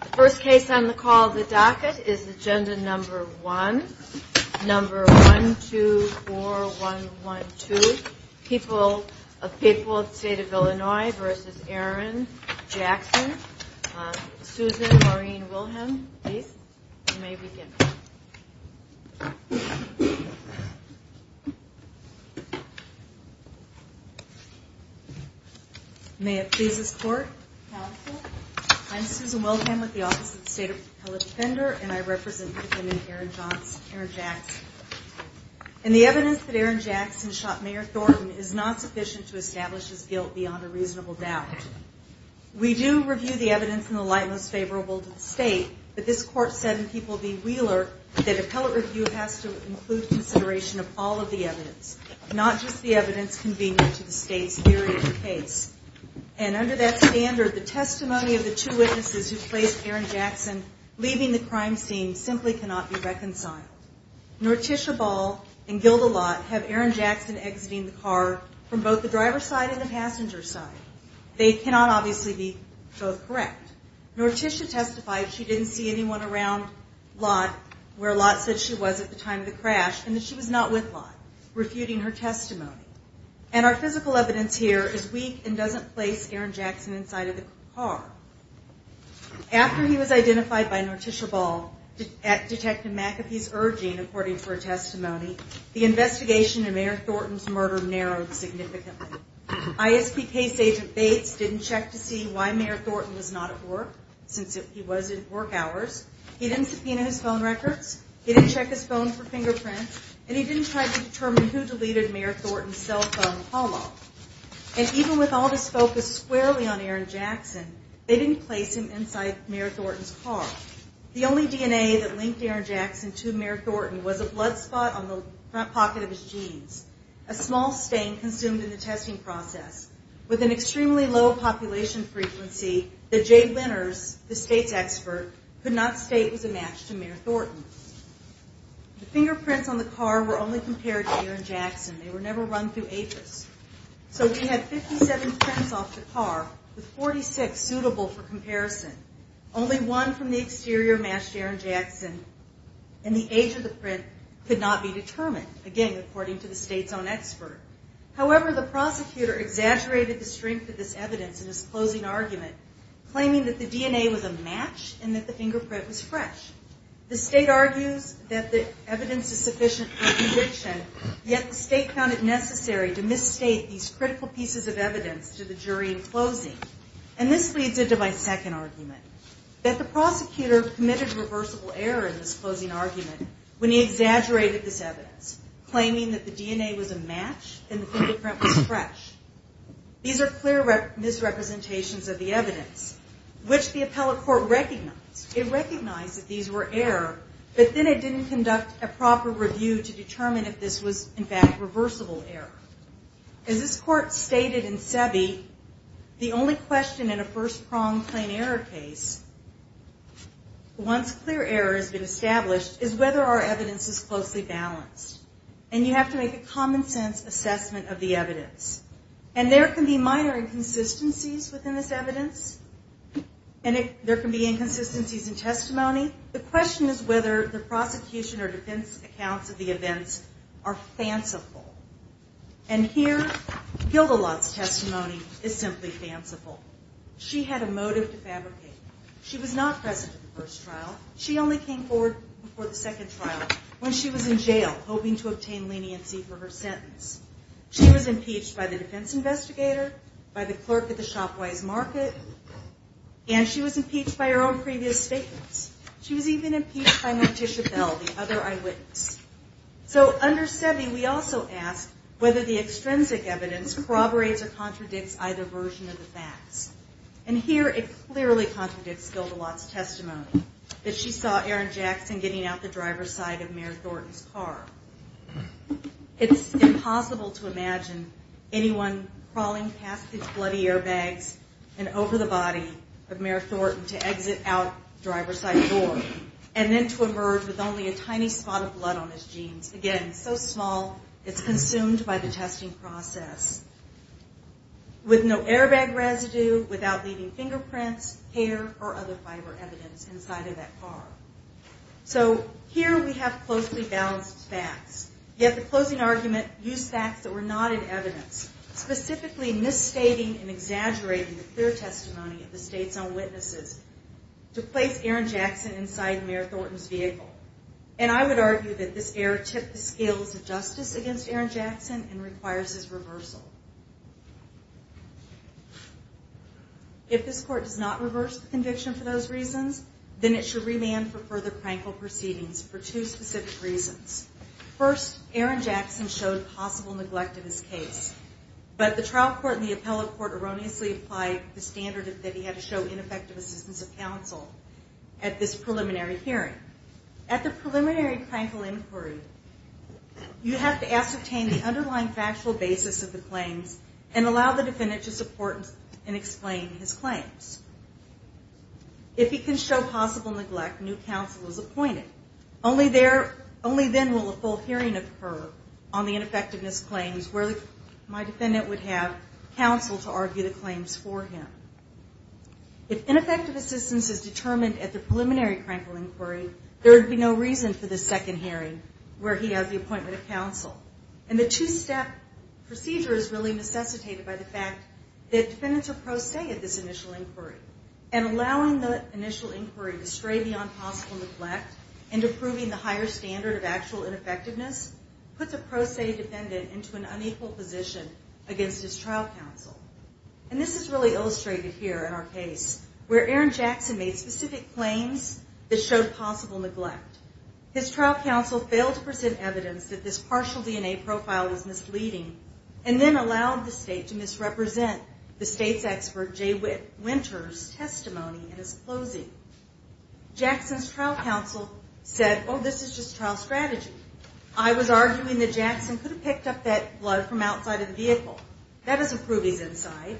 The first case on the call of the docket is Agenda No. 1, No. 124112, People of the State of Illinois v. Aaron Jackson. Susan, Maureen, Wilhelm, please. You may begin. May it please this court, counsel. I'm Susan Wilhelm with the Office of the State of Illinois Defender, and I represent the defendant, Aaron Jackson. And the evidence that Aaron Jackson shot Mayor Thornton is not sufficient to establish his guilt beyond a reasonable doubt. We do review the evidence in the light most favorable to the state, but this court said in People v. Wheeler that appellate review has to include consideration of all of the evidence, not just the evidence convenient to the state's theory of the case. And under that standard, the testimony of the two witnesses who placed Aaron Jackson leaving the crime scene simply cannot be reconciled. Nor Tisha Ball and Gilda Lott have Aaron Jackson exiting the car from both the driver's side and the passenger's side. They cannot obviously be both correct. Nor Tisha testified she didn't see anyone around Lott, where Lott said she was at the time of the crash, and that she was not with Lott, refuting her testimony. And our physical evidence here is weak and doesn't place Aaron Jackson inside of the car. After he was identified by Nor Tisha Ball at Detective McAfee's urging, according to her testimony, the investigation in Mayor Thornton's murder narrowed significantly. ISP case agent Bates didn't check to see why Mayor Thornton was not at work, since he was in work hours. He didn't subpoena his phone records. He didn't check his phone for fingerprints. And he didn't try to determine who deleted Mayor Thornton's cell phone call log. And even with all this focus squarely on Aaron Jackson, they didn't place him inside Mayor Thornton's car. The only DNA that linked Aaron Jackson to Mayor Thornton was a blood spot on the front pocket of his jeans, a small stain consumed in the testing process. With an extremely low population frequency, the jade linners, the state's expert, could not state it was a match to Mayor Thornton. The fingerprints on the car were only compared to Aaron Jackson. They were never run through APHIS. So we had 57 prints off the car, with 46 suitable for comparison. Only one from the exterior matched Aaron Jackson. And the age of the print could not be determined, again, according to the state's own expert. However, the prosecutor exaggerated the strength of this evidence in his closing argument, claiming that the DNA was a match and that the fingerprint was fresh. The state argues that the evidence is sufficient for a conviction, yet the state found it necessary to misstate these critical pieces of evidence to the jury in closing. And this leads into my second argument, that the prosecutor committed reversible error in this closing argument when he exaggerated this evidence, claiming that the DNA was a match and the fingerprint was fresh. These are clear misrepresentations of the evidence, which the appellate court recognized. It recognized that these were error, but then it didn't conduct a proper review to determine if this was, in fact, reversible error. As this court stated in Sebi, the only question in a first-pronged plain error case, once clear error has been established, is whether our evidence is closely balanced. And you have to make a common-sense assessment of the evidence. And there can be minor inconsistencies within this evidence, and there can be inconsistencies in testimony. The question is whether the prosecution or defense accounts of the events are fanciful. And here, Gildelot's testimony is simply fanciful. She had a motive to fabricate. She was not present at the first trial. She only came forward for the second trial when she was in jail, hoping to obtain leniency for her sentence. She was impeached by the defense investigator, by the clerk at the Shopwise Market, and she was impeached by her own previous statements. She was even impeached by Morticia Bell, the other eyewitness. So under Sebi, we also ask whether the extrinsic evidence corroborates or contradicts either version of the facts. And here, it clearly contradicts Gildelot's testimony, that she saw Aaron Jackson getting out the driver's side of Mayor Thornton's car. It's impossible to imagine anyone crawling past these bloody airbags and over the body of Mayor Thornton to exit out the driver's side door and then to emerge with only a tiny spot of blood on his jeans. Again, so small, it's consumed by the testing process. With no airbag residue, without leaving fingerprints, hair, or other fiber evidence inside of that car. So here we have closely balanced facts, yet the closing argument used facts that were not in evidence, specifically misstating and exaggerating the clear testimony of the state's own witnesses to place Aaron Jackson inside Mayor Thornton's vehicle. And I would argue that this error tipped the scales of justice against Aaron Jackson and requires his reversal. If this court does not reverse the conviction for those reasons, then it should remand for further prank or proceedings for two specific reasons. First, Aaron Jackson showed possible neglect of his case. But the trial court and the appellate court erroneously applied the standard that he had to show ineffective assistance of counsel at this preliminary hearing. At the preliminary crankle inquiry, you have to ascertain the underlying factual basis of the claims and allow the defendant to support and explain his claims. If he can show possible neglect, new counsel is appointed. Only then will a full hearing occur on the ineffectiveness claims where my defendant would have counsel to argue the claims for him. If ineffective assistance is determined at the preliminary crankle inquiry, there would be no reason for the second hearing where he has the appointment of counsel. And the two-step procedure is really necessitated by the fact that defendants are pro se at this initial inquiry. And allowing the initial inquiry to stray beyond possible neglect and to proving the higher standard of actual ineffectiveness puts a pro se defendant into an unequal position against his trial counsel. And this is really illustrated here in our case where Aaron Jackson made specific claims that showed possible neglect. His trial counsel failed to present evidence that this partial DNA profile was misleading and then allowed the state to misrepresent the state's expert Jay Winters' testimony in his closing. Jackson's trial counsel said, oh, this is just trial strategy. I was arguing that Jackson could have picked up that blood from outside of the vehicle. That doesn't prove he's inside.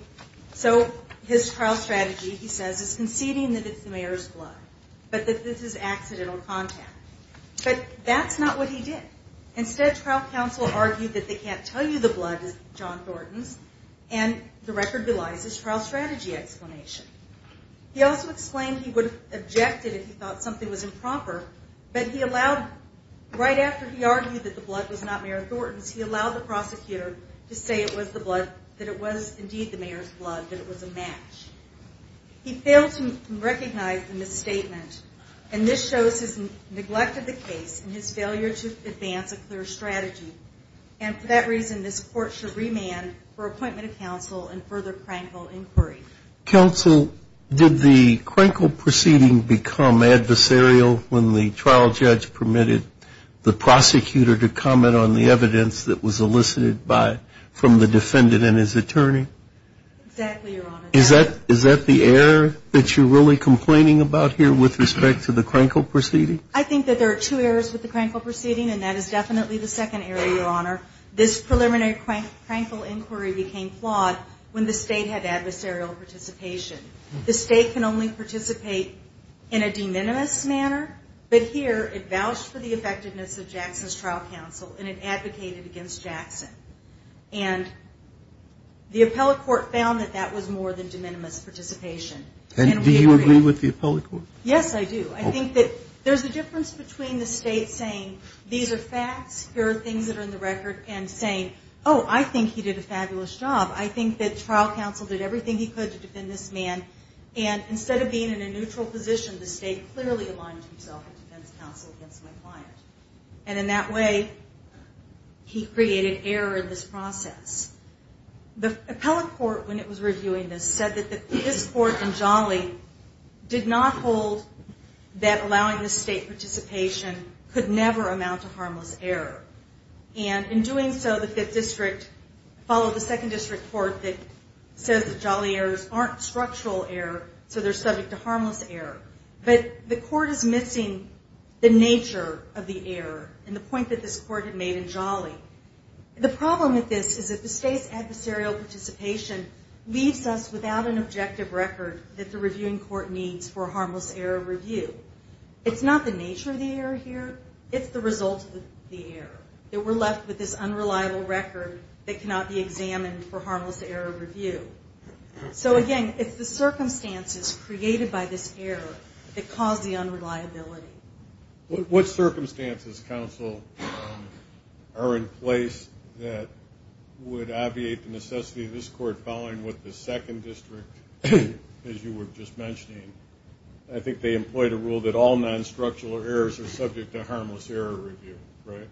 So his trial strategy, he says, is conceding that it's the mayor's blood, but that this is accidental contact. But that's not what he did. Instead, trial counsel argued that they can't tell you the blood is John Thornton's, and the record belies his trial strategy explanation. He also explained he would have objected if he thought something was improper, but he allowed, right after he argued that the blood was not Mayor Thornton's, he allowed the prosecutor to say it was the blood, that it was indeed the mayor's blood, that it was a match. He failed to recognize the misstatement, and this shows his neglect of the case and his failure to advance a clear strategy. And for that reason, this court should remand for appointment of counsel and further Krenkel inquiry. Counsel, did the Krenkel proceeding become adversarial when the trial judge permitted the prosecutor to comment on the evidence that was elicited by, from the defendant and his attorney? Exactly, Your Honor. Is that the error that you're really complaining about here with respect to the Krenkel proceeding? I think that there are two errors with the Krenkel proceeding, and that is definitely the second error, Your Honor. This preliminary Krenkel inquiry became flawed when the State had adversarial participation. The State can only participate in a de minimis manner, but here it vouched for the effectiveness of Jackson's trial counsel and it advocated against Jackson. And the appellate court found that that was more than de minimis participation. And do you agree with the appellate court? Yes, I do. I think that there's a difference between the State saying these are facts, here are things that are in the record, and saying, oh, I think he did a fabulous job. I think that trial counsel did everything he could to defend this man. And instead of being in a neutral position, the State clearly aligned himself in defense counsel against my client. And in that way, he created error in this process. The appellate court, when it was reviewing this, said that his court in Jolly did not hold that allowing the State participation could never amount to harmless error. And in doing so, the Fifth District followed the Second District Court that says that Jolly errors aren't structural error, so they're subject to harmless error. But the court is missing the nature of the error and the point that this court had made in Jolly. The problem with this is that the State's adversarial participation leaves us without an objective record that the reviewing court needs for a harmless error review. It's not the nature of the error here, it's the result of the error. That we're left with this unreliable record that cannot be examined for harmless error review. So, again, it's the circumstances created by this error that cause the unreliability. What circumstances, counsel, are in place that would obviate the necessity of this court following what the Second District, as you were just mentioning? I think they employed a rule that all non-structural errors are subject to harmless error review, right?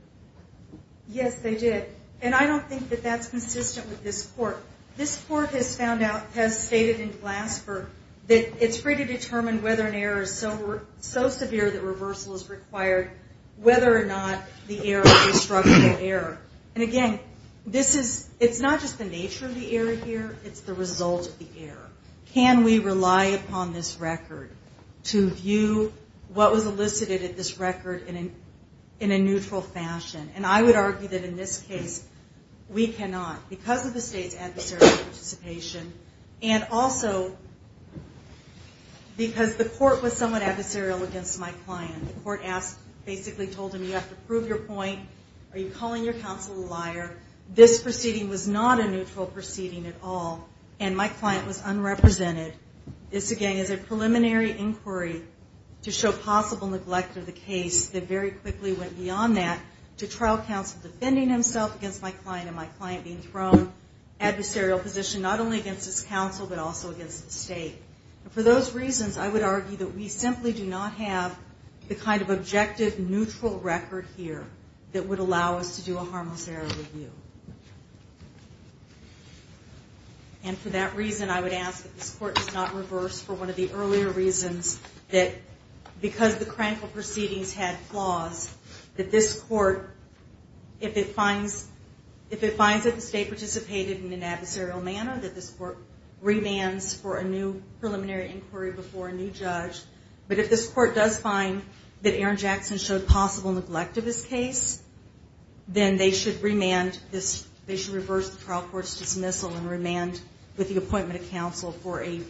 Yes, they did. And I don't think that that's consistent with this court. This court has found out, has stated in Glasper, that it's free to determine whether an error is so severe that reversal is required, whether or not the error is a structural error. And, again, it's not just the nature of the error here, it's the result of the error. Can we rely upon this record to view what was elicited at this record in a neutral fashion? And I would argue that in this case, we cannot. Because of the state's adversarial participation, and also because the court was somewhat adversarial against my client. The court basically told him, you have to prove your point, are you calling your counsel a liar? This proceeding was not a neutral proceeding at all, and my client was unrepresented. This, again, is a preliminary inquiry to show possible neglect of the case that very quickly went beyond that to trial counsel defending himself against my client, and my client being thrown an adversarial position, not only against his counsel, but also against the state. For those reasons, I would argue that we simply do not have the kind of objective, neutral record here that would allow us to do a harmless error review. And for that reason, I would ask that this court does not reverse for one of the earlier reasons that because the Krankel proceedings had flaws, that this court, if it finds that the state participated in an adversarial manner, that this court remands for a new preliminary inquiry before a new judge. But if this court does find that Aaron Jackson showed possible neglect of his case, then they should remand this, they should reverse the trial court's dismissal and remand with the appointment of counsel for a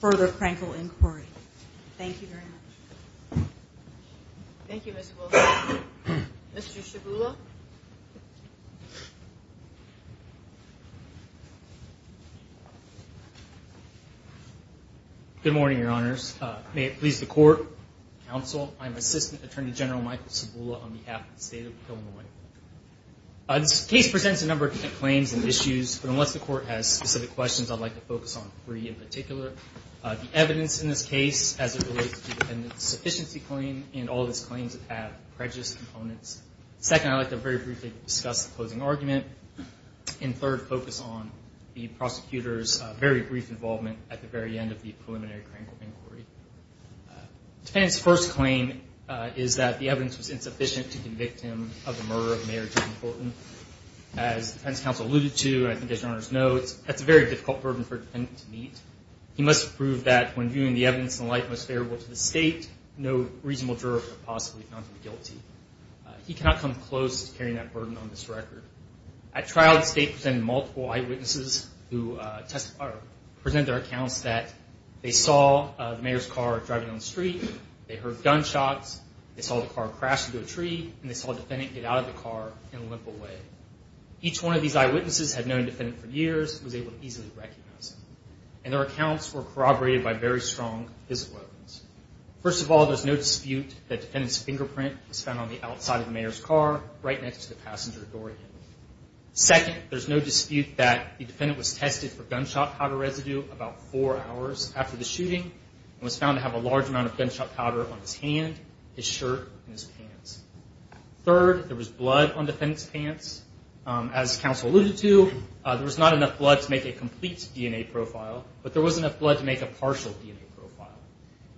further Krankel inquiry. Thank you very much. Thank you, Ms. Wilson. Mr. Shibula. Good morning, Your Honors. May it please the court, counsel, I'm Assistant Attorney General Michael Shibula on behalf of the State of Illinois. This case presents a number of different claims and issues, but unless the court has specific questions, I'd like to focus on three in particular. The evidence in this case as it relates to the defendant's sufficiency claim and all of his claims that have prejudice components. Second, I'd like to very briefly discuss the closing argument. And third, focus on the prosecutor's very brief involvement at the very end of the preliminary Krankel inquiry. The defendant's first claim is that the evidence was insufficient to convict him of the murder of Mayor John Fulton. As the defense counsel alluded to, and I think as Your Honors know, that's a very difficult burden for a defendant to meet. He must prove that when viewing the evidence in the light most favorable to the state, no reasonable juror could have possibly found him guilty. He cannot come close to carrying that burden on this record. At trial, the state presented multiple eyewitnesses who presented their accounts that they saw the mayor's car driving down the street, they heard gunshots, they saw the car crash into a tree, and they saw the defendant get out of the car and limp away. Each one of these eyewitnesses had known the defendant for years and was able to easily recognize him. And their accounts were corroborated by very strong physical evidence. First of all, there's no dispute that the defendant's fingerprint was found on the outside of the mayor's car, right next to the passenger door handle. Second, there's no dispute that the defendant was tested for gunshot powder residue about four hours after the shooting and was found to have a large amount of gunshot powder on his hand, his shirt, and his pants. Third, there was blood on the defendant's pants. As counsel alluded to, there was not enough blood to make a complete DNA profile, but there was enough blood to make a partial DNA profile.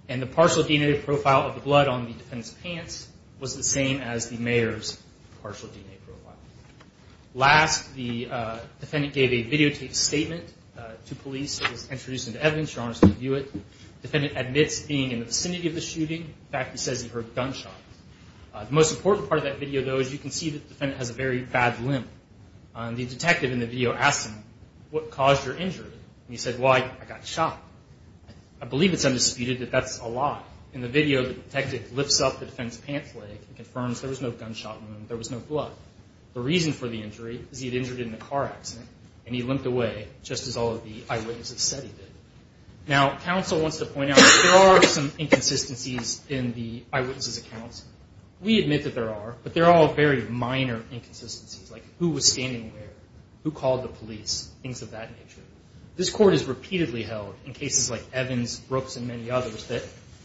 And the partial DNA profile of the blood on the defendant's pants was the same as the mayor's partial DNA profile. Last, the defendant gave a videotaped statement to police. It was introduced into evidence. You're honored to review it. The defendant admits being in the vicinity of the shooting. In fact, he says he heard gunshots. The most important part of that video, though, is you can see that the defendant has a very bad limp. The detective in the video asks him, what caused your injury? And he said, well, I got shot. I believe it's undisputed that that's a lie. In the video, the detective lifts up the defendant's pants leg and confirms there was no gunshot wound, there was no blood. The reason for the injury is he had injured in a car accident, and he limped away, just as all of the eyewitnesses said he did. Now, counsel wants to point out that there are some inconsistencies in the eyewitnesses' accounts. We admit that there are, but they're all very minor inconsistencies, like who was standing where, who called the police, things of that nature. This court has repeatedly held, in cases like Evans, Brooks, and many others, that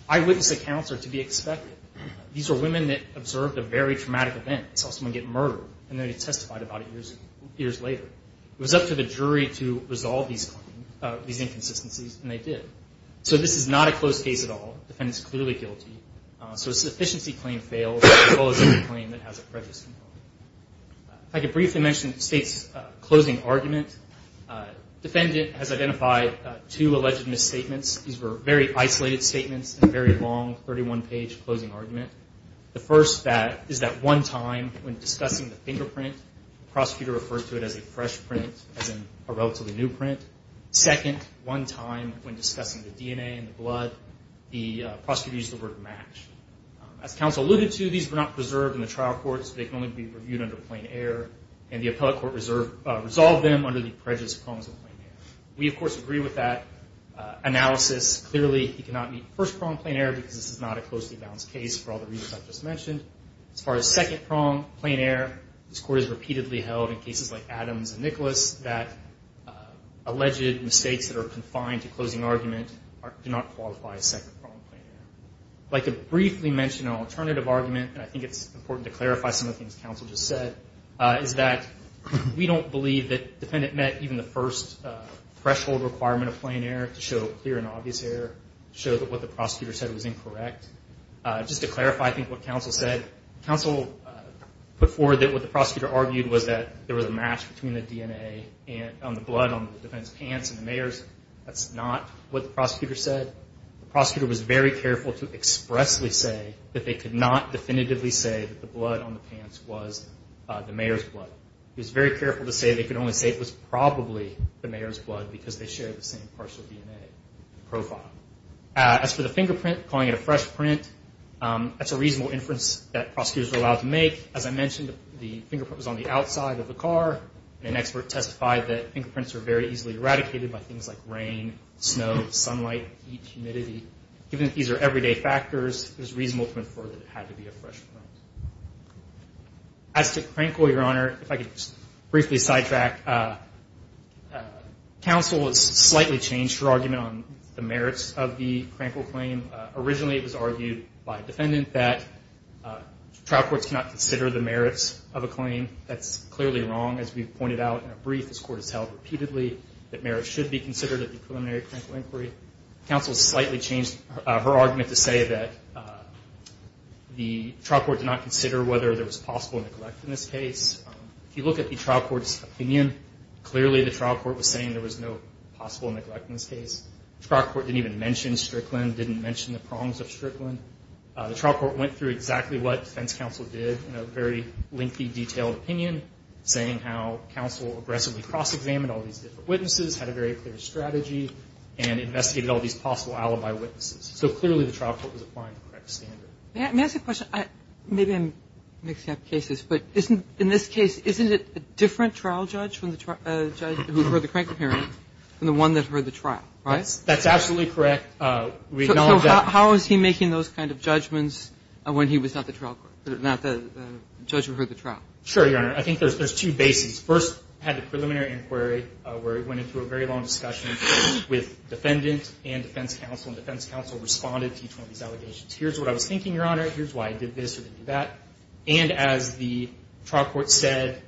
eyewitness accounts are to be expected. These are women that observed a very traumatic event, saw someone get murdered, and then they testified about it years later. It was up to the jury to resolve these claims, these inconsistencies, and they did. So this is not a closed case at all. The defendant is clearly guilty. So a sufficiency claim fails, as well as any claim that has a prejudice component. If I could briefly mention the State's closing argument. The defendant has identified two alleged misstatements. These were very isolated statements in a very long, 31-page closing argument. The first is that one time, when discussing the fingerprint, the prosecutor referred to it as a fresh print, as in a relatively new print. Second, one time, when discussing the DNA and the blood, the prosecutor used the word match. As counsel alluded to, these were not preserved in the trial courts. They can only be reviewed under plain air, and the appellate court resolved them under the prejudice prongs of plain air. We, of course, agree with that analysis. Clearly, he cannot meet the first prong, plain air, because this is not a closely balanced case, for all the reasons I just mentioned. As far as second prong, plain air, this court has repeatedly held, in cases like Adams and Nicholas, that alleged mistakes that are confined to closing argument do not qualify as second prong, plain air. I'd like to briefly mention an alternative argument, and I think it's important to clarify some of the things counsel just said, is that we don't believe that the defendant met even the first threshold requirement of plain air to show clear and obvious error, to show that what the prosecutor said was incorrect. Just to clarify, I think, what counsel said, counsel put forward that what the prosecutor argued was that there was a match between the DNA on the blood on the defendant's pants and the mayor's. That's not what the prosecutor said. The prosecutor was very careful to expressly say that they could not definitively say that the blood on the pants was the mayor's blood. He was very careful to say they could only say it was probably the mayor's blood, because they shared the same partial DNA profile. As for the fingerprint, calling it a fresh print, that's a reasonable inference that prosecutors are allowed to make. As I mentioned, the fingerprint was on the outside of the car, and an expert testified that fingerprints are very easily eradicated by things like rain, snow, sunlight, heat, humidity. Given that these are everyday factors, it was reasonable to infer that it had to be a fresh print. As to Krankel, Your Honor, if I could just briefly sidetrack, counsel has slightly changed her argument on the merits of the Krankel claim. Originally, it was argued by a defendant that trial courts cannot consider the merits of a claim. That's clearly wrong. As we've pointed out in a brief, this Court has held repeatedly that merits should be considered at the preliminary Krankel inquiry. Counsel has slightly changed her argument to say that the trial court did not consider whether there was possible neglect in this case. If you look at the trial court's opinion, clearly the trial court was saying there was no possible neglect in this case. The trial court didn't even mention Strickland, didn't mention the prongs of Strickland. The trial court went through exactly what defense counsel did in a very lengthy, detailed opinion, saying how counsel aggressively cross-examined all these different witnesses, had a very clear strategy, and investigated all these possible alibi witnesses. So clearly the trial court was applying the correct standard. May I ask a question? Maybe I'm mixing up cases, but in this case, isn't it a different trial judge who heard the Krankel hearing than the one that heard the trial? Right? That's absolutely correct. We acknowledge that. So how is he making those kind of judgments when he was not the trial court, not the judge who heard the trial? Sure, Your Honor. I think there's two bases. First, had the preliminary inquiry where it went into a very long discussion with defendant and defense counsel, and defense counsel responded to each one of these allegations. Here's what I was thinking, Your Honor. Here's why I did this or did that. And as the trial court said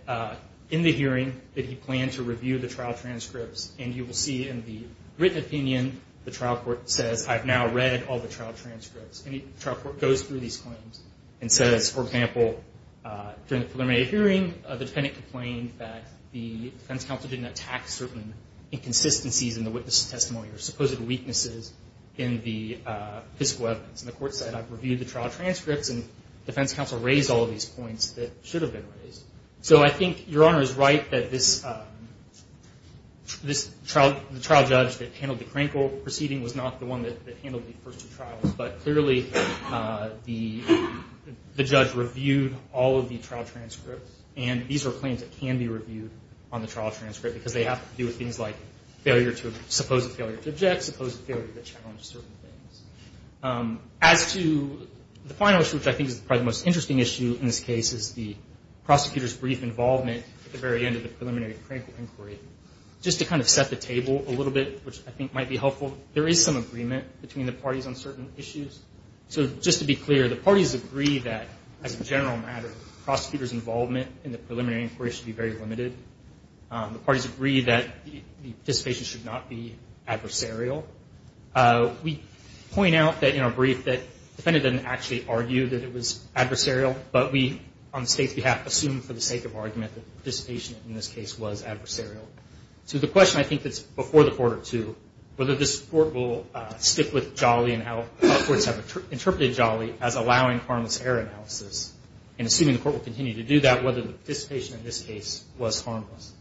in the hearing that he planned to review the trial transcripts, and you will see in the written opinion, the trial court says, I've now read all the trial transcripts. And the trial court goes through these claims and says, for example, during the preliminary hearing, the defendant complained that the defense counsel didn't attack certain inconsistencies in the witness testimony or supposed weaknesses in the physical evidence. And the court said, I've reviewed the trial transcripts, and defense counsel raised all of these points that should have been raised. So I think Your Honor is right that this trial judge that handled the Krankel proceeding was not the one that handled the first two trials. But clearly, the judge reviewed all of the trial transcripts, and these are claims that can be reviewed on the trial transcript because they have to do with things like supposed failure to object, supposed failure to challenge certain things. As to the final issue, which I think is probably the most interesting issue in this case, is the prosecutor's brief involvement at the very end of the preliminary Krankel inquiry. Just to kind of set the table a little bit, which I think might be helpful, there is some agreement between the parties on certain issues. So just to be clear, the parties agree that, as a general matter, prosecutors' involvement in the preliminary inquiry should be very limited. The parties agree that the participation should not be adversarial. We point out that in our brief that the defendant didn't actually argue that it was adversarial, but we, on the State's behalf, assumed for the sake of argument that participation in this case was adversarial. So the question, I think, that's before the Court, too, whether this Court will stick with Jolly and how courts have interpreted Jolly as allowing harmless error analysis, and assuming the Court will continue to do that, whether the participation in this case was harmless.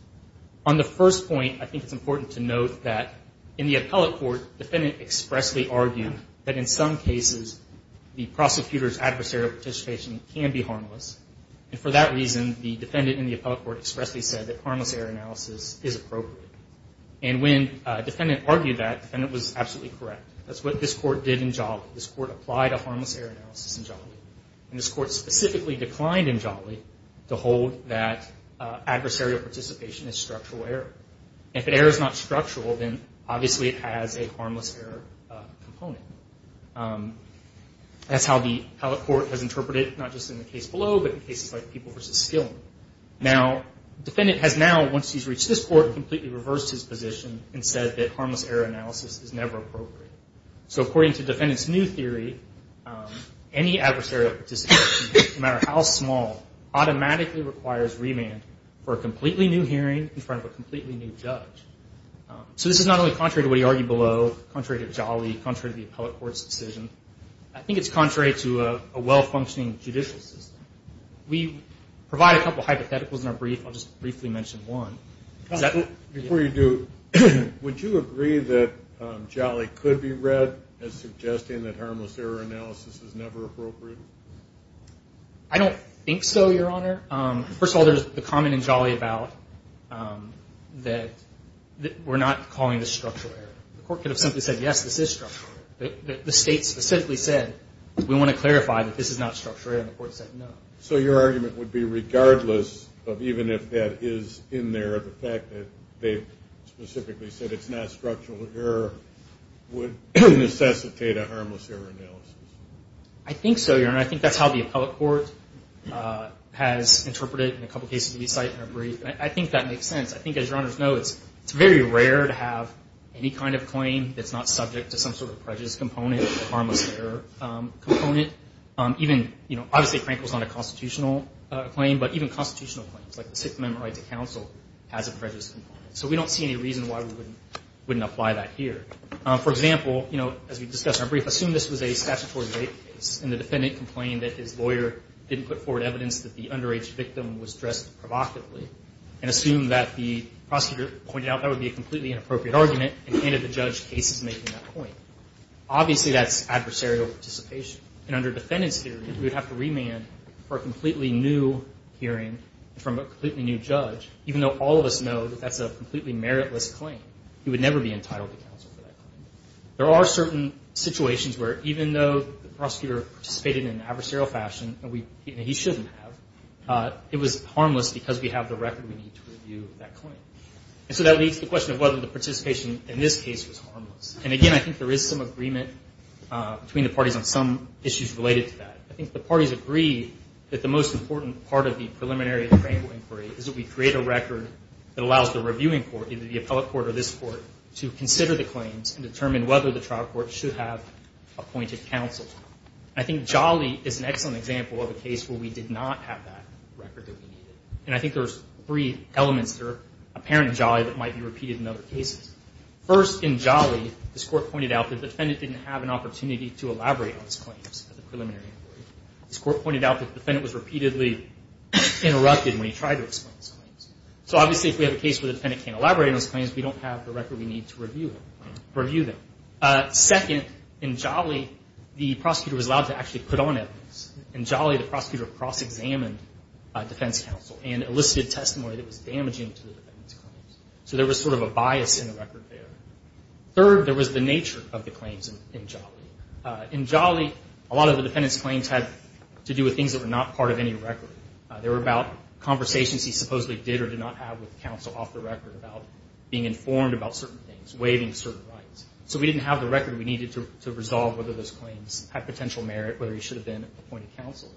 On the first point, I think it's important to note that, in the appellate court, the defendant expressly argued that, in some cases, the prosecutor's adversarial participation can be harmless. And for that reason, the defendant in the appellate court expressly said that harmless error analysis is appropriate. And when a defendant argued that, the defendant was absolutely correct. That's what this Court did in Jolly. This Court applied a harmless error analysis in Jolly. And this Court specifically declined in Jolly to hold that adversarial participation is structural error. If an error is not structural, then obviously it has a harmless error component. That's how the appellate court has interpreted it, not just in the case below, but in cases like People v. Skilling. Now, the defendant has now, once he's reached this Court, completely reversed his position and said that harmless error analysis is never appropriate. So according to the defendant's new theory, any adversarial participation, no matter how small, automatically requires remand for a completely new hearing in front of a completely new judge. So this is not only contrary to what he argued below, contrary to Jolly, contrary to the appellate court's decision. I think it's contrary to a well-functioning judicial system. We provide a couple of hypotheticals in our brief. I'll just briefly mention one. Before you do, would you agree that Jolly could be read as suggesting that harmless error analysis is never appropriate? I don't think so, Your Honor. First of all, there's the comment in Jolly about that we're not calling this structural error. The Court could have simply said, yes, this is structural error. The State specifically said, we want to clarify that this is not structural error, and the Court said no. So your argument would be regardless of even if that is in there, the fact that they specifically said it's not structural error would necessitate a harmless error analysis? I think so, Your Honor. I think that's how the appellate court has interpreted it in a couple of cases we cite in our brief. I think that makes sense. I think, as Your Honors know, it's very rare to have any kind of claim that's not subject to some sort of prejudice component or harmless error component. Obviously, Frank was on a constitutional claim, but even constitutional claims, like the Sixth Amendment right to counsel, has a prejudice component. So we don't see any reason why we wouldn't apply that here. For example, as we discussed in our brief, assume this was a statutory rape case and the defendant complained that his lawyer didn't put forward evidence that the underage victim was dressed provocatively and assumed that the prosecutor pointed out that would be a completely inappropriate argument and handed the judge cases making that point. Obviously, that's adversarial participation. And under defendant's theory, we would have to remand for a completely new hearing from a completely new judge, even though all of us know that that's a completely meritless claim. He would never be entitled to counsel for that claim. There are certain situations where even though the prosecutor participated in an adversarial fashion, and he shouldn't have, it was harmless because we have the record we need to review that claim. And so that leads to the question of whether the participation in this case was harmless. And, again, I think there is some agreement between the parties on some issues related to that. I think the parties agree that the most important part of the preliminary frame of inquiry is that we create a record that allows the reviewing court, either the appellate court or this court, to consider the claims and determine whether the trial court should have appointed counsel. I think Jolly is an excellent example of a case where we did not have that record that we needed. And I think there's three elements that are apparent in Jolly that might be repeated in other cases. First, in Jolly, this court pointed out that the defendant didn't have an opportunity to elaborate on his claims at the preliminary inquiry. This court pointed out that the defendant was repeatedly interrupted when he tried to explain his claims. So, obviously, if we have a case where the defendant can't elaborate on his claims, we don't have the record we need to review them. Second, in Jolly, the prosecutor was allowed to actually put on evidence. In Jolly, the prosecutor cross-examined defense counsel and elicited testimony that was damaging to the defendant's claims. So there was sort of a bias in the record there. Third, there was the nature of the claims in Jolly. In Jolly, a lot of the defendant's claims had to do with things that were not part of any record. They were about conversations he supposedly did or did not have with counsel off the record about being informed about certain things, waiving certain rights. So we didn't have the record we needed to resolve whether those claims had potential merit, whether he should have been appointed counsel.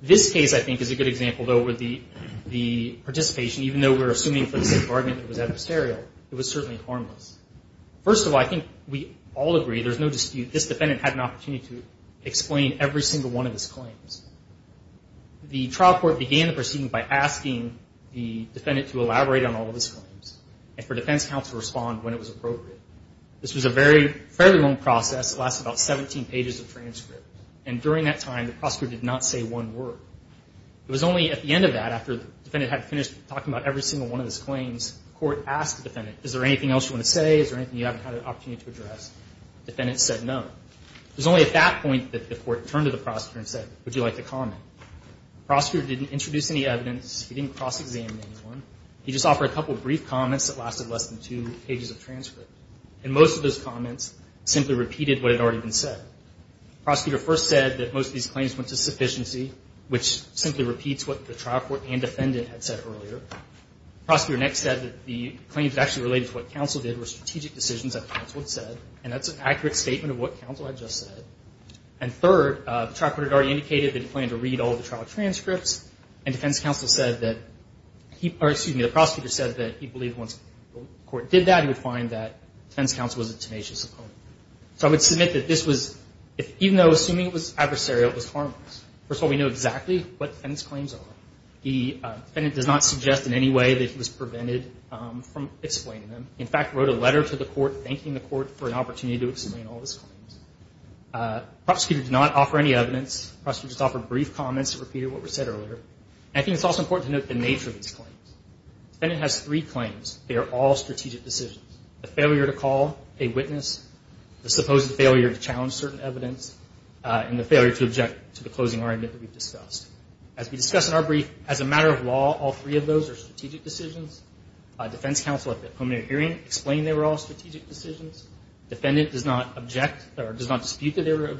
This case, I think, is a good example, though, where the participation, even though we're assuming for the sake of argument it was adversarial, it was certainly harmless. First of all, I think we all agree, there's no dispute, this defendant had an opportunity to explain every single one of his claims. The trial court began the proceeding by asking the defendant to elaborate on all of his claims and for defense counsel to respond when it was appropriate. This was a very, fairly long process. It lasted about 17 pages of transcript. And during that time, the prosecutor did not say one word. It was only at the end of that, after the defendant had finished talking about every single one of his claims, the court asked the defendant, is there anything else you want to say? Is there anything you haven't had an opportunity to address? The defendant said no. It was only at that point that the court turned to the prosecutor and said, would you like to comment? The prosecutor didn't introduce any evidence. He didn't cross-examine anyone. He just offered a couple brief comments that lasted less than two pages of transcript. And most of those comments simply repeated what had already been said. The prosecutor first said that most of these claims went to sufficiency, which simply repeats what the trial court and defendant had said earlier. The prosecutor next said that the claims actually related to what counsel did were strategic decisions that counsel had said. And that's an accurate statement of what counsel had just said. And third, the trial court had already indicated that he planned to read all of the trial transcripts. And defense counsel said that he, or excuse me, the prosecutor said that he believed once the court did that, he would find that defense counsel was a tenacious opponent. So I would submit that this was, even though assuming it was adversarial, it was harmless. First of all, we know exactly what the defendant's claims are. The defendant does not suggest in any way that he was prevented from explaining them. He, in fact, wrote a letter to the court thanking the court for an opportunity to explain all of his claims. The prosecutor did not offer any evidence. The prosecutor just offered brief comments that repeated what was said earlier. And I think it's also important to note the nature of these claims. The defendant has three claims. They are all strategic decisions. The failure to call a witness, the supposed failure to challenge certain evidence, and the failure to object to the closing argument that we've discussed. As we discussed in our brief, as a matter of law, all three of those are strategic decisions. Defense counsel, at the preliminary hearing, explained they were all strategic decisions. Defendant does not object or does not dispute that they were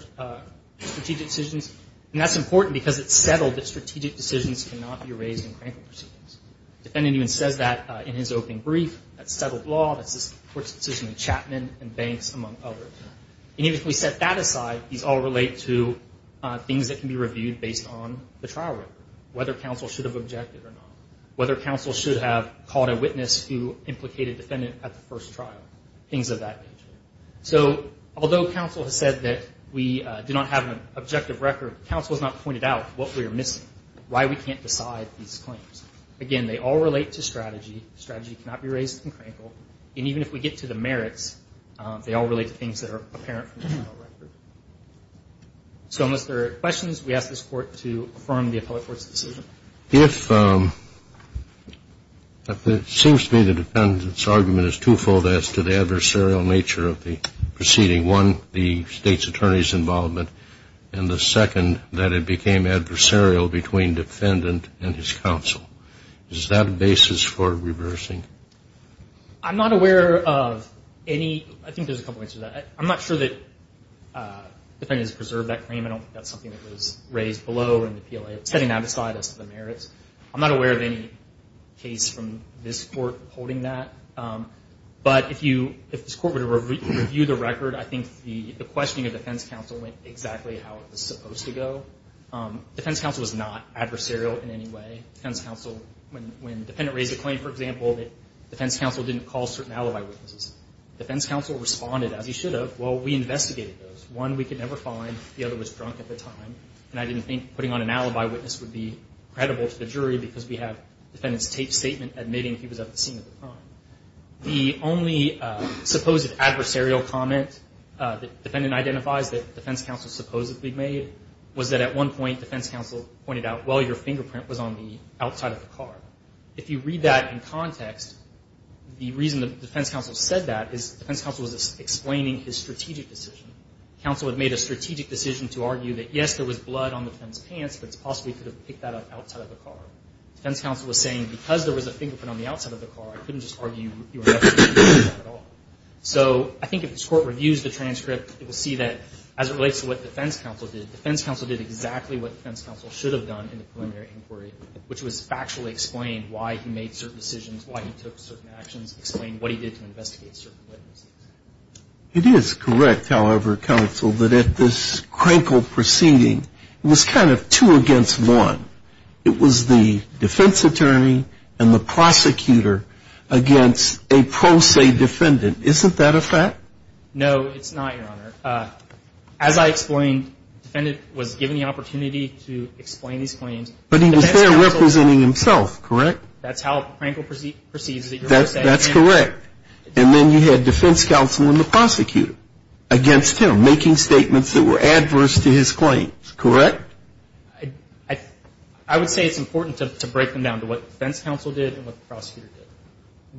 strategic decisions. And that's important because it's settled that strategic decisions cannot be raised in cranked proceedings. The defendant even says that in his opening brief. That's settled law. That's the court's decision in Chapman and Banks, among others. And even if we set that aside, these all relate to things that can be reviewed based on the trial record, whether counsel should have objected or not, whether counsel should have called a witness who implicated the defendant at the first trial, things of that nature. So although counsel has said that we do not have an objective record, counsel has not pointed out what we are missing, why we can't decide these claims. Again, they all relate to strategy. Strategy cannot be raised in crankle. And even if we get to the merits, they all relate to things that are apparent from the trial record. So unless there are questions, we ask this Court to affirm the appellate court's decision. If it seems to me the defendant's argument is twofold as to the adversarial nature of the proceeding. One, the state's attorney's involvement. And the second, that it became adversarial between defendant and his counsel. Is that a basis for reversing? I'm not aware of any. I think there's a couple of ways to do that. I'm not sure that the defendant has preserved that claim. I don't think that's something that was raised below in the PLA. Setting that aside as to the merits. I'm not aware of any case from this Court holding that. But if this Court were to review the record, I think the questioning of defense counsel went exactly how it was supposed to go. Defense counsel was not adversarial in any way. When the defendant raised a claim, for example, defense counsel didn't call certain alibi witnesses. Defense counsel responded as he should have. Well, we investigated those. One we could never find. The other was drunk at the time. And I didn't think putting on an alibi witness would be credible to the jury because we have the defendant's statement admitting he was at the scene of the crime. The only supposed adversarial comment the defendant identifies that defense counsel supposedly made was that at one point defense counsel pointed out, well, your fingerprint was on the outside of the car. If you read that in context, the reason that defense counsel said that is defense counsel was explaining his strategic decision. Counsel had made a strategic decision to argue that, yes, there was blood on the defendant's pants, but it's possible he could have picked that up outside of the car. Defense counsel was saying, because there was a fingerprint on the outside of the car, I couldn't just argue you were not supposed to be doing that at all. So I think if this Court reviews the transcript, it will see that as it relates to what defense counsel did, defense counsel did exactly what defense counsel should have done in the preliminary inquiry, which was factually explain why he made certain decisions, why he took certain actions, explain what he did to investigate certain witnesses. It is correct, however, counsel, that at this Crankle proceeding, it was kind of two against one. It was the defense attorney and the prosecutor against a pro se defendant. Isn't that a fact? No, it's not, Your Honor. As I explained, the defendant was given the opportunity to explain these claims. But he was there representing himself, correct? That's how Crankle proceeds. That's correct. And then you had defense counsel and the prosecutor against him, making statements that were adverse to his claims, correct? I would say it's important to break them down to what defense counsel did and what the prosecutor did.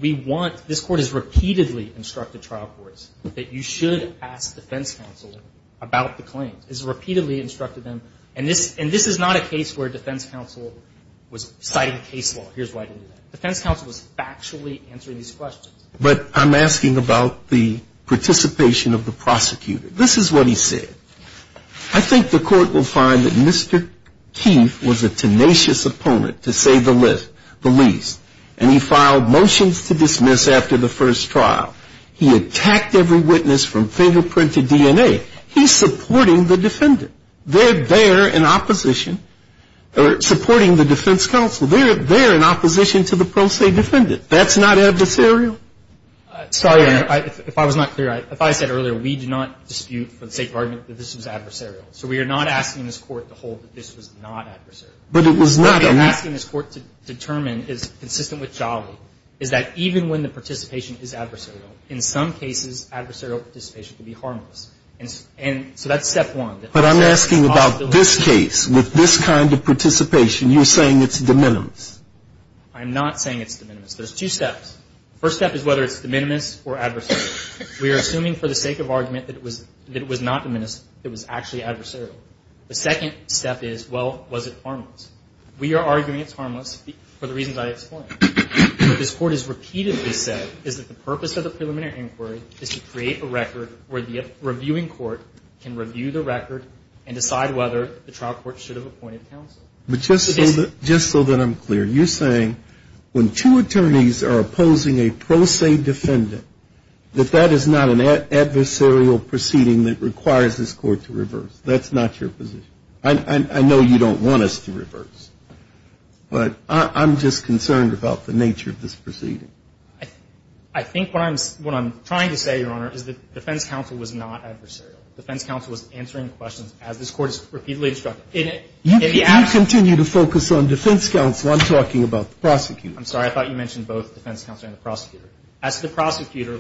We want, this Court has repeatedly instructed trial courts that you should ask defense counsel about the claims. It has repeatedly instructed them. And this is not a case where defense counsel was citing case law. Here's why it didn't do that. Defense counsel was factually answering these questions. But I'm asking about the participation of the prosecutor. This is what he said. I think the Court will find that Mr. Keith was a tenacious opponent, to say the least. And he filed motions to dismiss after the first trial. He attacked every witness from fingerprint to DNA. He's supporting the defendant. They're there in opposition, or supporting the defense counsel. They're in opposition to the pro se defendant. That's not adversarial? Sorry, Your Honor. If I was not clear, if I said earlier, we do not dispute for the sake of argument that this was adversarial. So we are not asking this Court to hold that this was not adversarial. But it was not a lack. What we're asking this Court to determine is consistent with Jolly, is that even when the participation is adversarial, in some cases, adversarial participation can be harmless. And so that's step one. But I'm asking about this case. With this kind of participation, you're saying it's de minimis? I'm not saying it's de minimis. There's two steps. The first step is whether it's de minimis or adversarial. We are assuming for the sake of argument that it was not de minimis, it was actually adversarial. The second step is, well, was it harmless? We are arguing it's harmless for the reasons I explained. What this Court has repeatedly said is that the purpose of the preliminary inquiry is to create a record where the reviewing court can review the record and decide whether the trial court should have appointed counsel. But just so that I'm clear, you're saying when two attorneys are opposing a pro se defendant, that that is not an adversarial proceeding that requires this Court to reverse? That's not your position? I know you don't want us to reverse. But I'm just concerned about the nature of this proceeding. I think what I'm trying to say, Your Honor, is that defense counsel was not adversarial. Defense counsel was answering questions as this Court has repeatedly instructed. You continue to focus on defense counsel. I'm talking about the prosecutor. I'm sorry. I thought you mentioned both defense counsel and the prosecutor. As the prosecutor,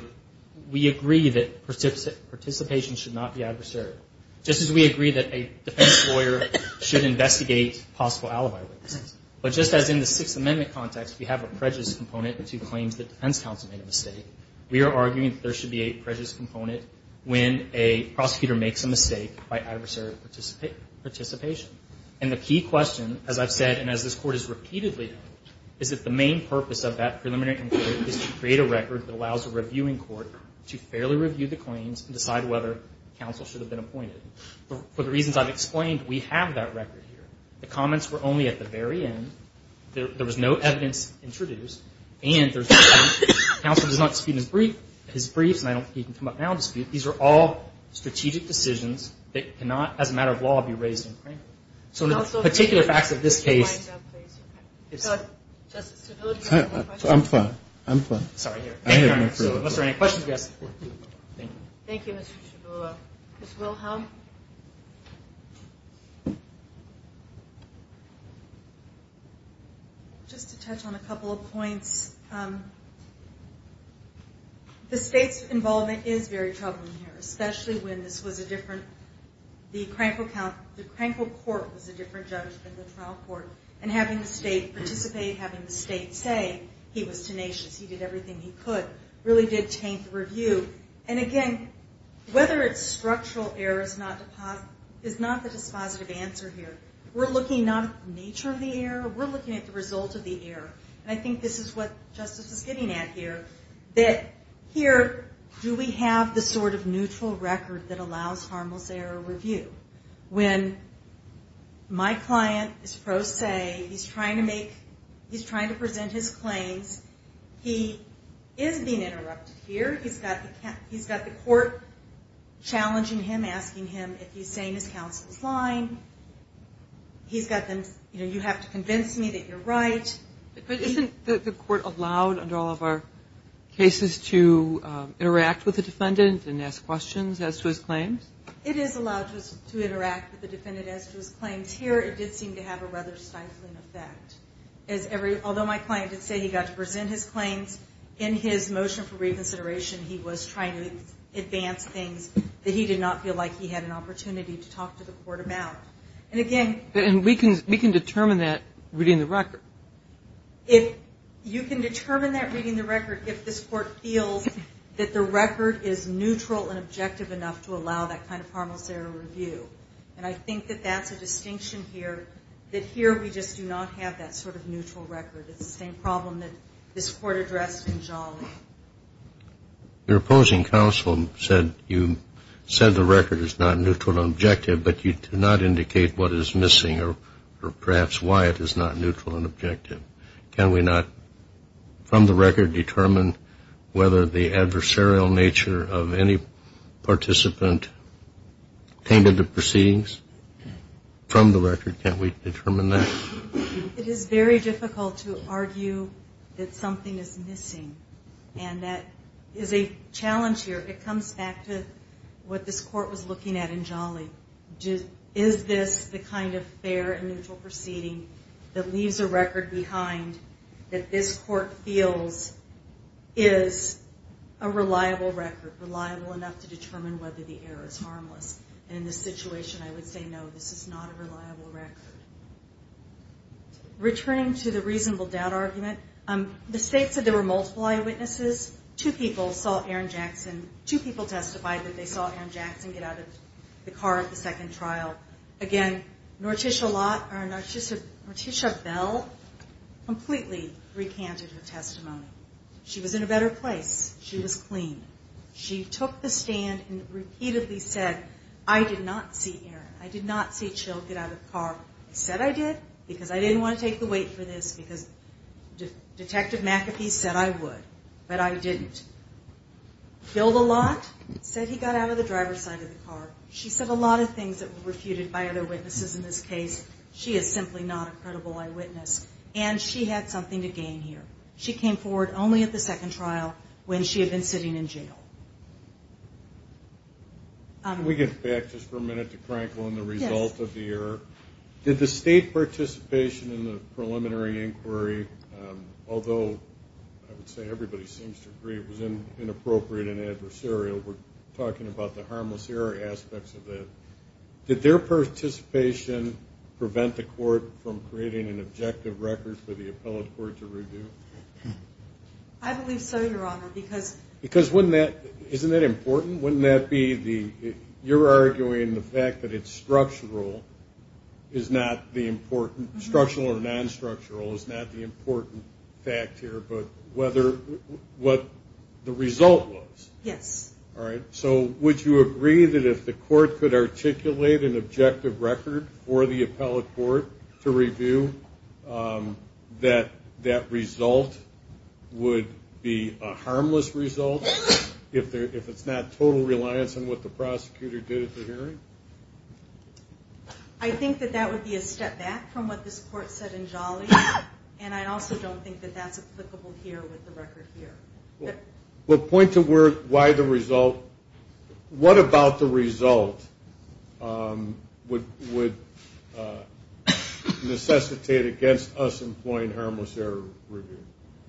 we agree that participation should not be adversarial. Just as we agree that a defense lawyer should investigate possible alibi weaknesses. But just as in the Sixth Amendment context, we have a prejudice component to claims that defense counsel made a mistake, we are arguing that there should be a prejudice component when a prosecutor makes a mistake by adversarial participation. And the key question, as I've said and as this Court has repeatedly done, is that the main purpose of that preliminary inquiry is to create a record that allows a reviewing court to fairly review the claims and decide whether counsel should have been appointed. For the reasons I've explained, we have that record here. The comments were only at the very end. There was no evidence introduced. And counsel does not dispute his briefs. He can come up now and dispute. These are all strategic decisions that cannot, as a matter of law, be raised in court. So the particular facts of this case... I'm fine. I'm fine. Unless there are any questions, yes. Thank you. Thank you, Mr. Chiavula. Ms. Wilhelm? Just to touch on a couple of points, the State's involvement is very troubling here, especially when this was a different... The Krankel Court was a different judge than the trial court. And having the State participate, having the State say he was tenacious, he did everything And again, whether it's structural error is not the dispositive answer here. We're looking not at the nature of the error. We're looking at the result of the error. And I think this is what Justice is getting at here, that here, do we have the sort of neutral record that allows Harmel's error review? When my client is pro se, he's trying to present his claims, he is being interrupted here. He's got the court challenging him, asking him if he's saying his counsel is lying. He's got them, you know, you have to convince me that you're right. But isn't the court allowed, under all of our cases, to interact with the defendant and ask questions as to his claims? It is allowed to interact with the defendant as to his claims. Here, it did seem to have a rather stifling effect. Although my client did say he got to present his claims, in his motion for reconsideration, he was trying to advance things that he did not feel like he had an opportunity to talk to the court about. And again... And we can determine that reading the record. You can determine that reading the record if this court feels that the record is neutral and objective enough to allow that kind of Harmel's error review. And I think that that's a distinction here, that here we just do not have that sort of neutral record. It's the same problem that this court addressed in Jolly. Your opposing counsel said the record is not neutral and objective, but you do not indicate what is missing or perhaps why it is not neutral and objective. Can we not, from the record, determine whether the adversarial nature of any participant came to the proceedings? From the record, can't we determine that? It is very difficult to argue that something is missing, and that is a challenge here. It comes back to what this court was looking at in Jolly. Is this the kind of fair and neutral proceeding that leaves a record behind, that this court feels is a reliable record, reliable enough to determine whether the error is harmless? And in this situation, I would say no, this is not a reliable record. Returning to the reasonable doubt argument, the state said there were multiple eyewitnesses. Two people saw Aaron Jackson. Two people testified that they saw Aaron Jackson get out of the car at the second trial. Again, Norticia Bell completely recanted her testimony. She was in a better place. She was clean. She took the stand and repeatedly said, I did not see Aaron. I did not see Jill get out of the car. I said I did, because I didn't want to take the weight for this, because Detective McAfee said I would, but I didn't. Bill DeLotte said he got out of the driver's side of the car. She said a lot of things that were refuted by other witnesses in this case. She is simply not a credible eyewitness, and she had something to gain here. She came forward only at the second trial when she had been sitting in jail. Can we get back just for a minute to Crankle and the result of the error? Did the state participation in the preliminary inquiry, although I would say everybody seems to agree it was inappropriate and adversarial, we're talking about the harmless error aspects of it, did their participation prevent the court from creating an objective record for the appellate court to review? I believe so, Your Honor, because Because wouldn't that, isn't that important? Wouldn't that be the, you're arguing the fact that it's structural is not the important, structural or non-structural is not the important fact here, but what the result was. Yes. All right. So would you agree that if the court could articulate an objective record for the appellate court to review, that that result would be a harmless result if it's not total reliance on what the prosecutor did at the hearing? I think that that would be a step back from what this court said in Jolly, and I also don't think that that's applicable here with the record here. Well, point to why the result, what about the result would necessitate against us employing harmless error review,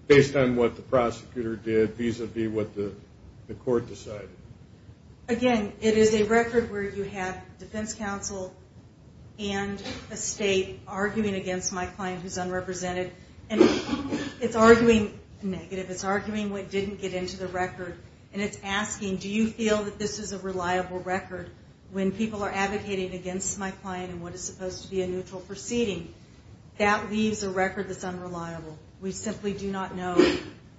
based on what the prosecutor did vis-a-vis what the court decided? Again, it is a record where you have defense counsel and a state arguing against my client who's unrepresented, and it's arguing negative, it's arguing what didn't get into the record, and it's asking, do you feel that this is a reliable record? When people are advocating against my client in what is supposed to be a neutral proceeding, that leaves a record that's unreliable. We simply do not know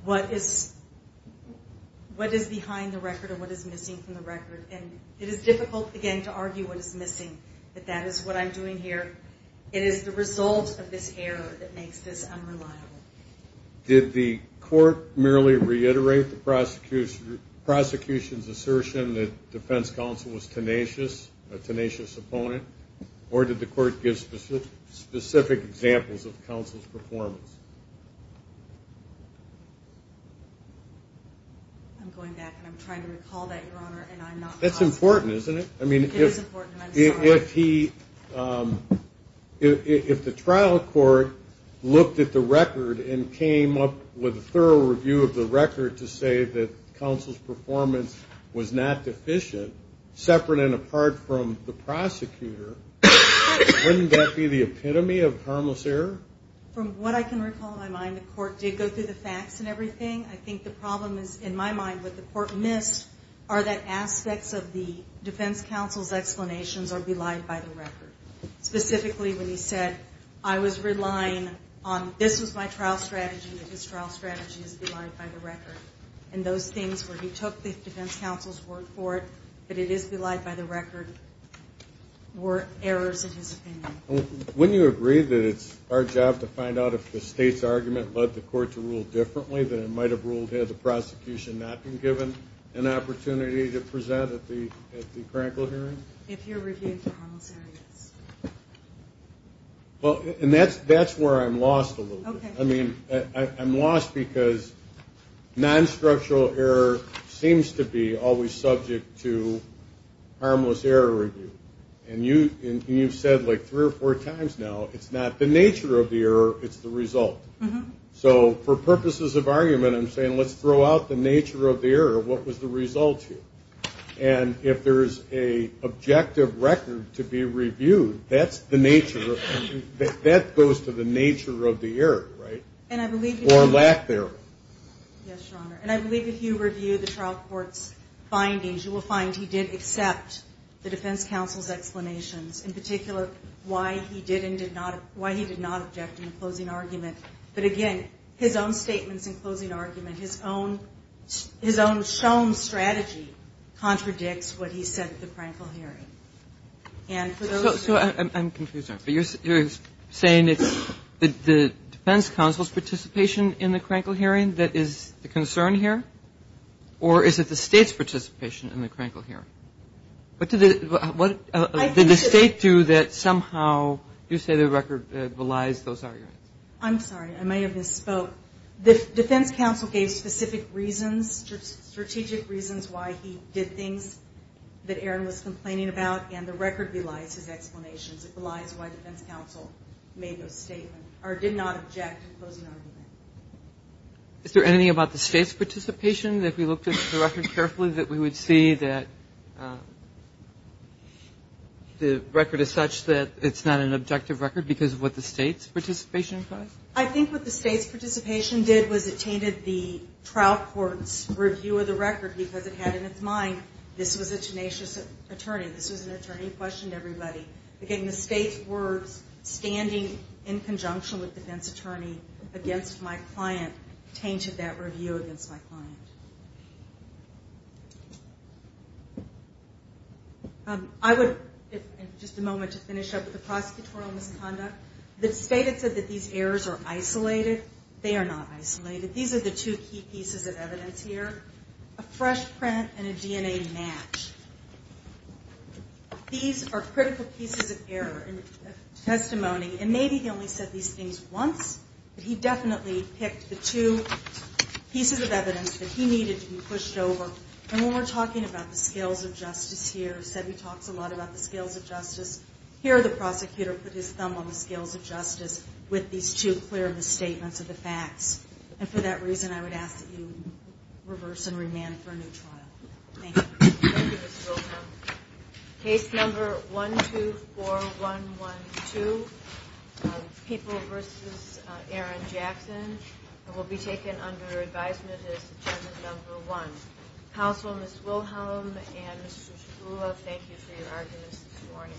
what is behind the record or what is missing from the record, and it is difficult, again, to argue what is missing, but that is what I'm doing here. It is the result of this error that makes this unreliable. Did the court merely reiterate the prosecution's assertion that defense counsel was tenacious, a tenacious opponent, or did the court give specific examples of counsel's performance? I'm going back, and I'm trying to recall that, Your Honor, and I'm not confident. That's important, isn't it? It is important, and I'm sorry. If the trial court looked at the record and came up with a thorough review of the record to say that counsel's performance was not deficient, separate and apart from the prosecutor, wouldn't that be the epitome of harmless error? From what I can recall in my mind, the court did go through the facts and everything. I think the problem is, in my mind, what the court missed are that aspects of the defense counsel's explanations are belied by the record, specifically when he said, I was relying on this as my trial strategy, and his trial strategy is belied by the record. And those things where he took the defense counsel's word for it, but it is belied by the record, were errors in his opinion. Wouldn't you agree that it's our job to find out if the state's argument led the court to rule differently, that it might have ruled had the prosecution not been given an opportunity to present at the critical hearing? If you're reviewing for harmless errors. And that's where I'm lost a little bit. I'm lost because non-structural error seems to be always subject to harmless error review. And you've said like three or four times now, it's not the nature of the error, it's the result. So for purposes of argument, I'm saying let's throw out the nature of the error. What was the result here? And if there's an objective record to be reviewed, that goes to the nature of the error, right? Or lack thereof. Yes, Your Honor. And I believe if you review the trial court's findings, you will find he did accept the defense counsel's explanations, in particular why he did and did not object in the closing argument. But again, his own statements in closing argument, his own shown strategy contradicts what he said at the critical hearing. So I'm confused, Your Honor. You're saying it's the defense counsel's participation in the critical hearing that is the concern here? Or is it the state's participation in the critical hearing? What did the state do that somehow you say the record belies those arguments? I'm sorry. I may have misspoke. The defense counsel gave specific reasons, strategic reasons why he did things that Aaron was complaining about, and the record belies his explanations. It belies why defense counsel made those statements or did not object in closing argument. Is there anything about the state's participation that if we looked at the record carefully, that we would see that the record is such that it's not an objective record because of what the state's participation implies? I think what the state's participation did was it tainted the trial court's review of the record because it had in its mind this was a tenacious attorney. This was an attorney who questioned everybody. Again, the state's words, standing in conjunction with defense attorney against my client, tainted that review against my client. I would, in just a moment, to finish up with the prosecutorial misconduct, the state had said that these errors are isolated. They are not isolated. These are the two key pieces of evidence here, a fresh print and a DNA match. These are critical pieces of error and testimony, and maybe he only said these things once, but he definitely picked the two pieces of evidence that he needed to be pushed over. And when we're talking about the scales of justice here, Sebby talks a lot about the scales of justice. Here the prosecutor put his thumb on the scales of justice with these two clear misstatements of the facts. And for that reason, I would ask that you reverse and remand for a new trial. Thank you. Thank you, Ms. Wilhelm. Case number 124112, People v. Aaron Jackson, will be taken under advisement as agenda number one. Counsel, Ms. Wilhelm and Mr. Shkula, thank you for your arguments this morning.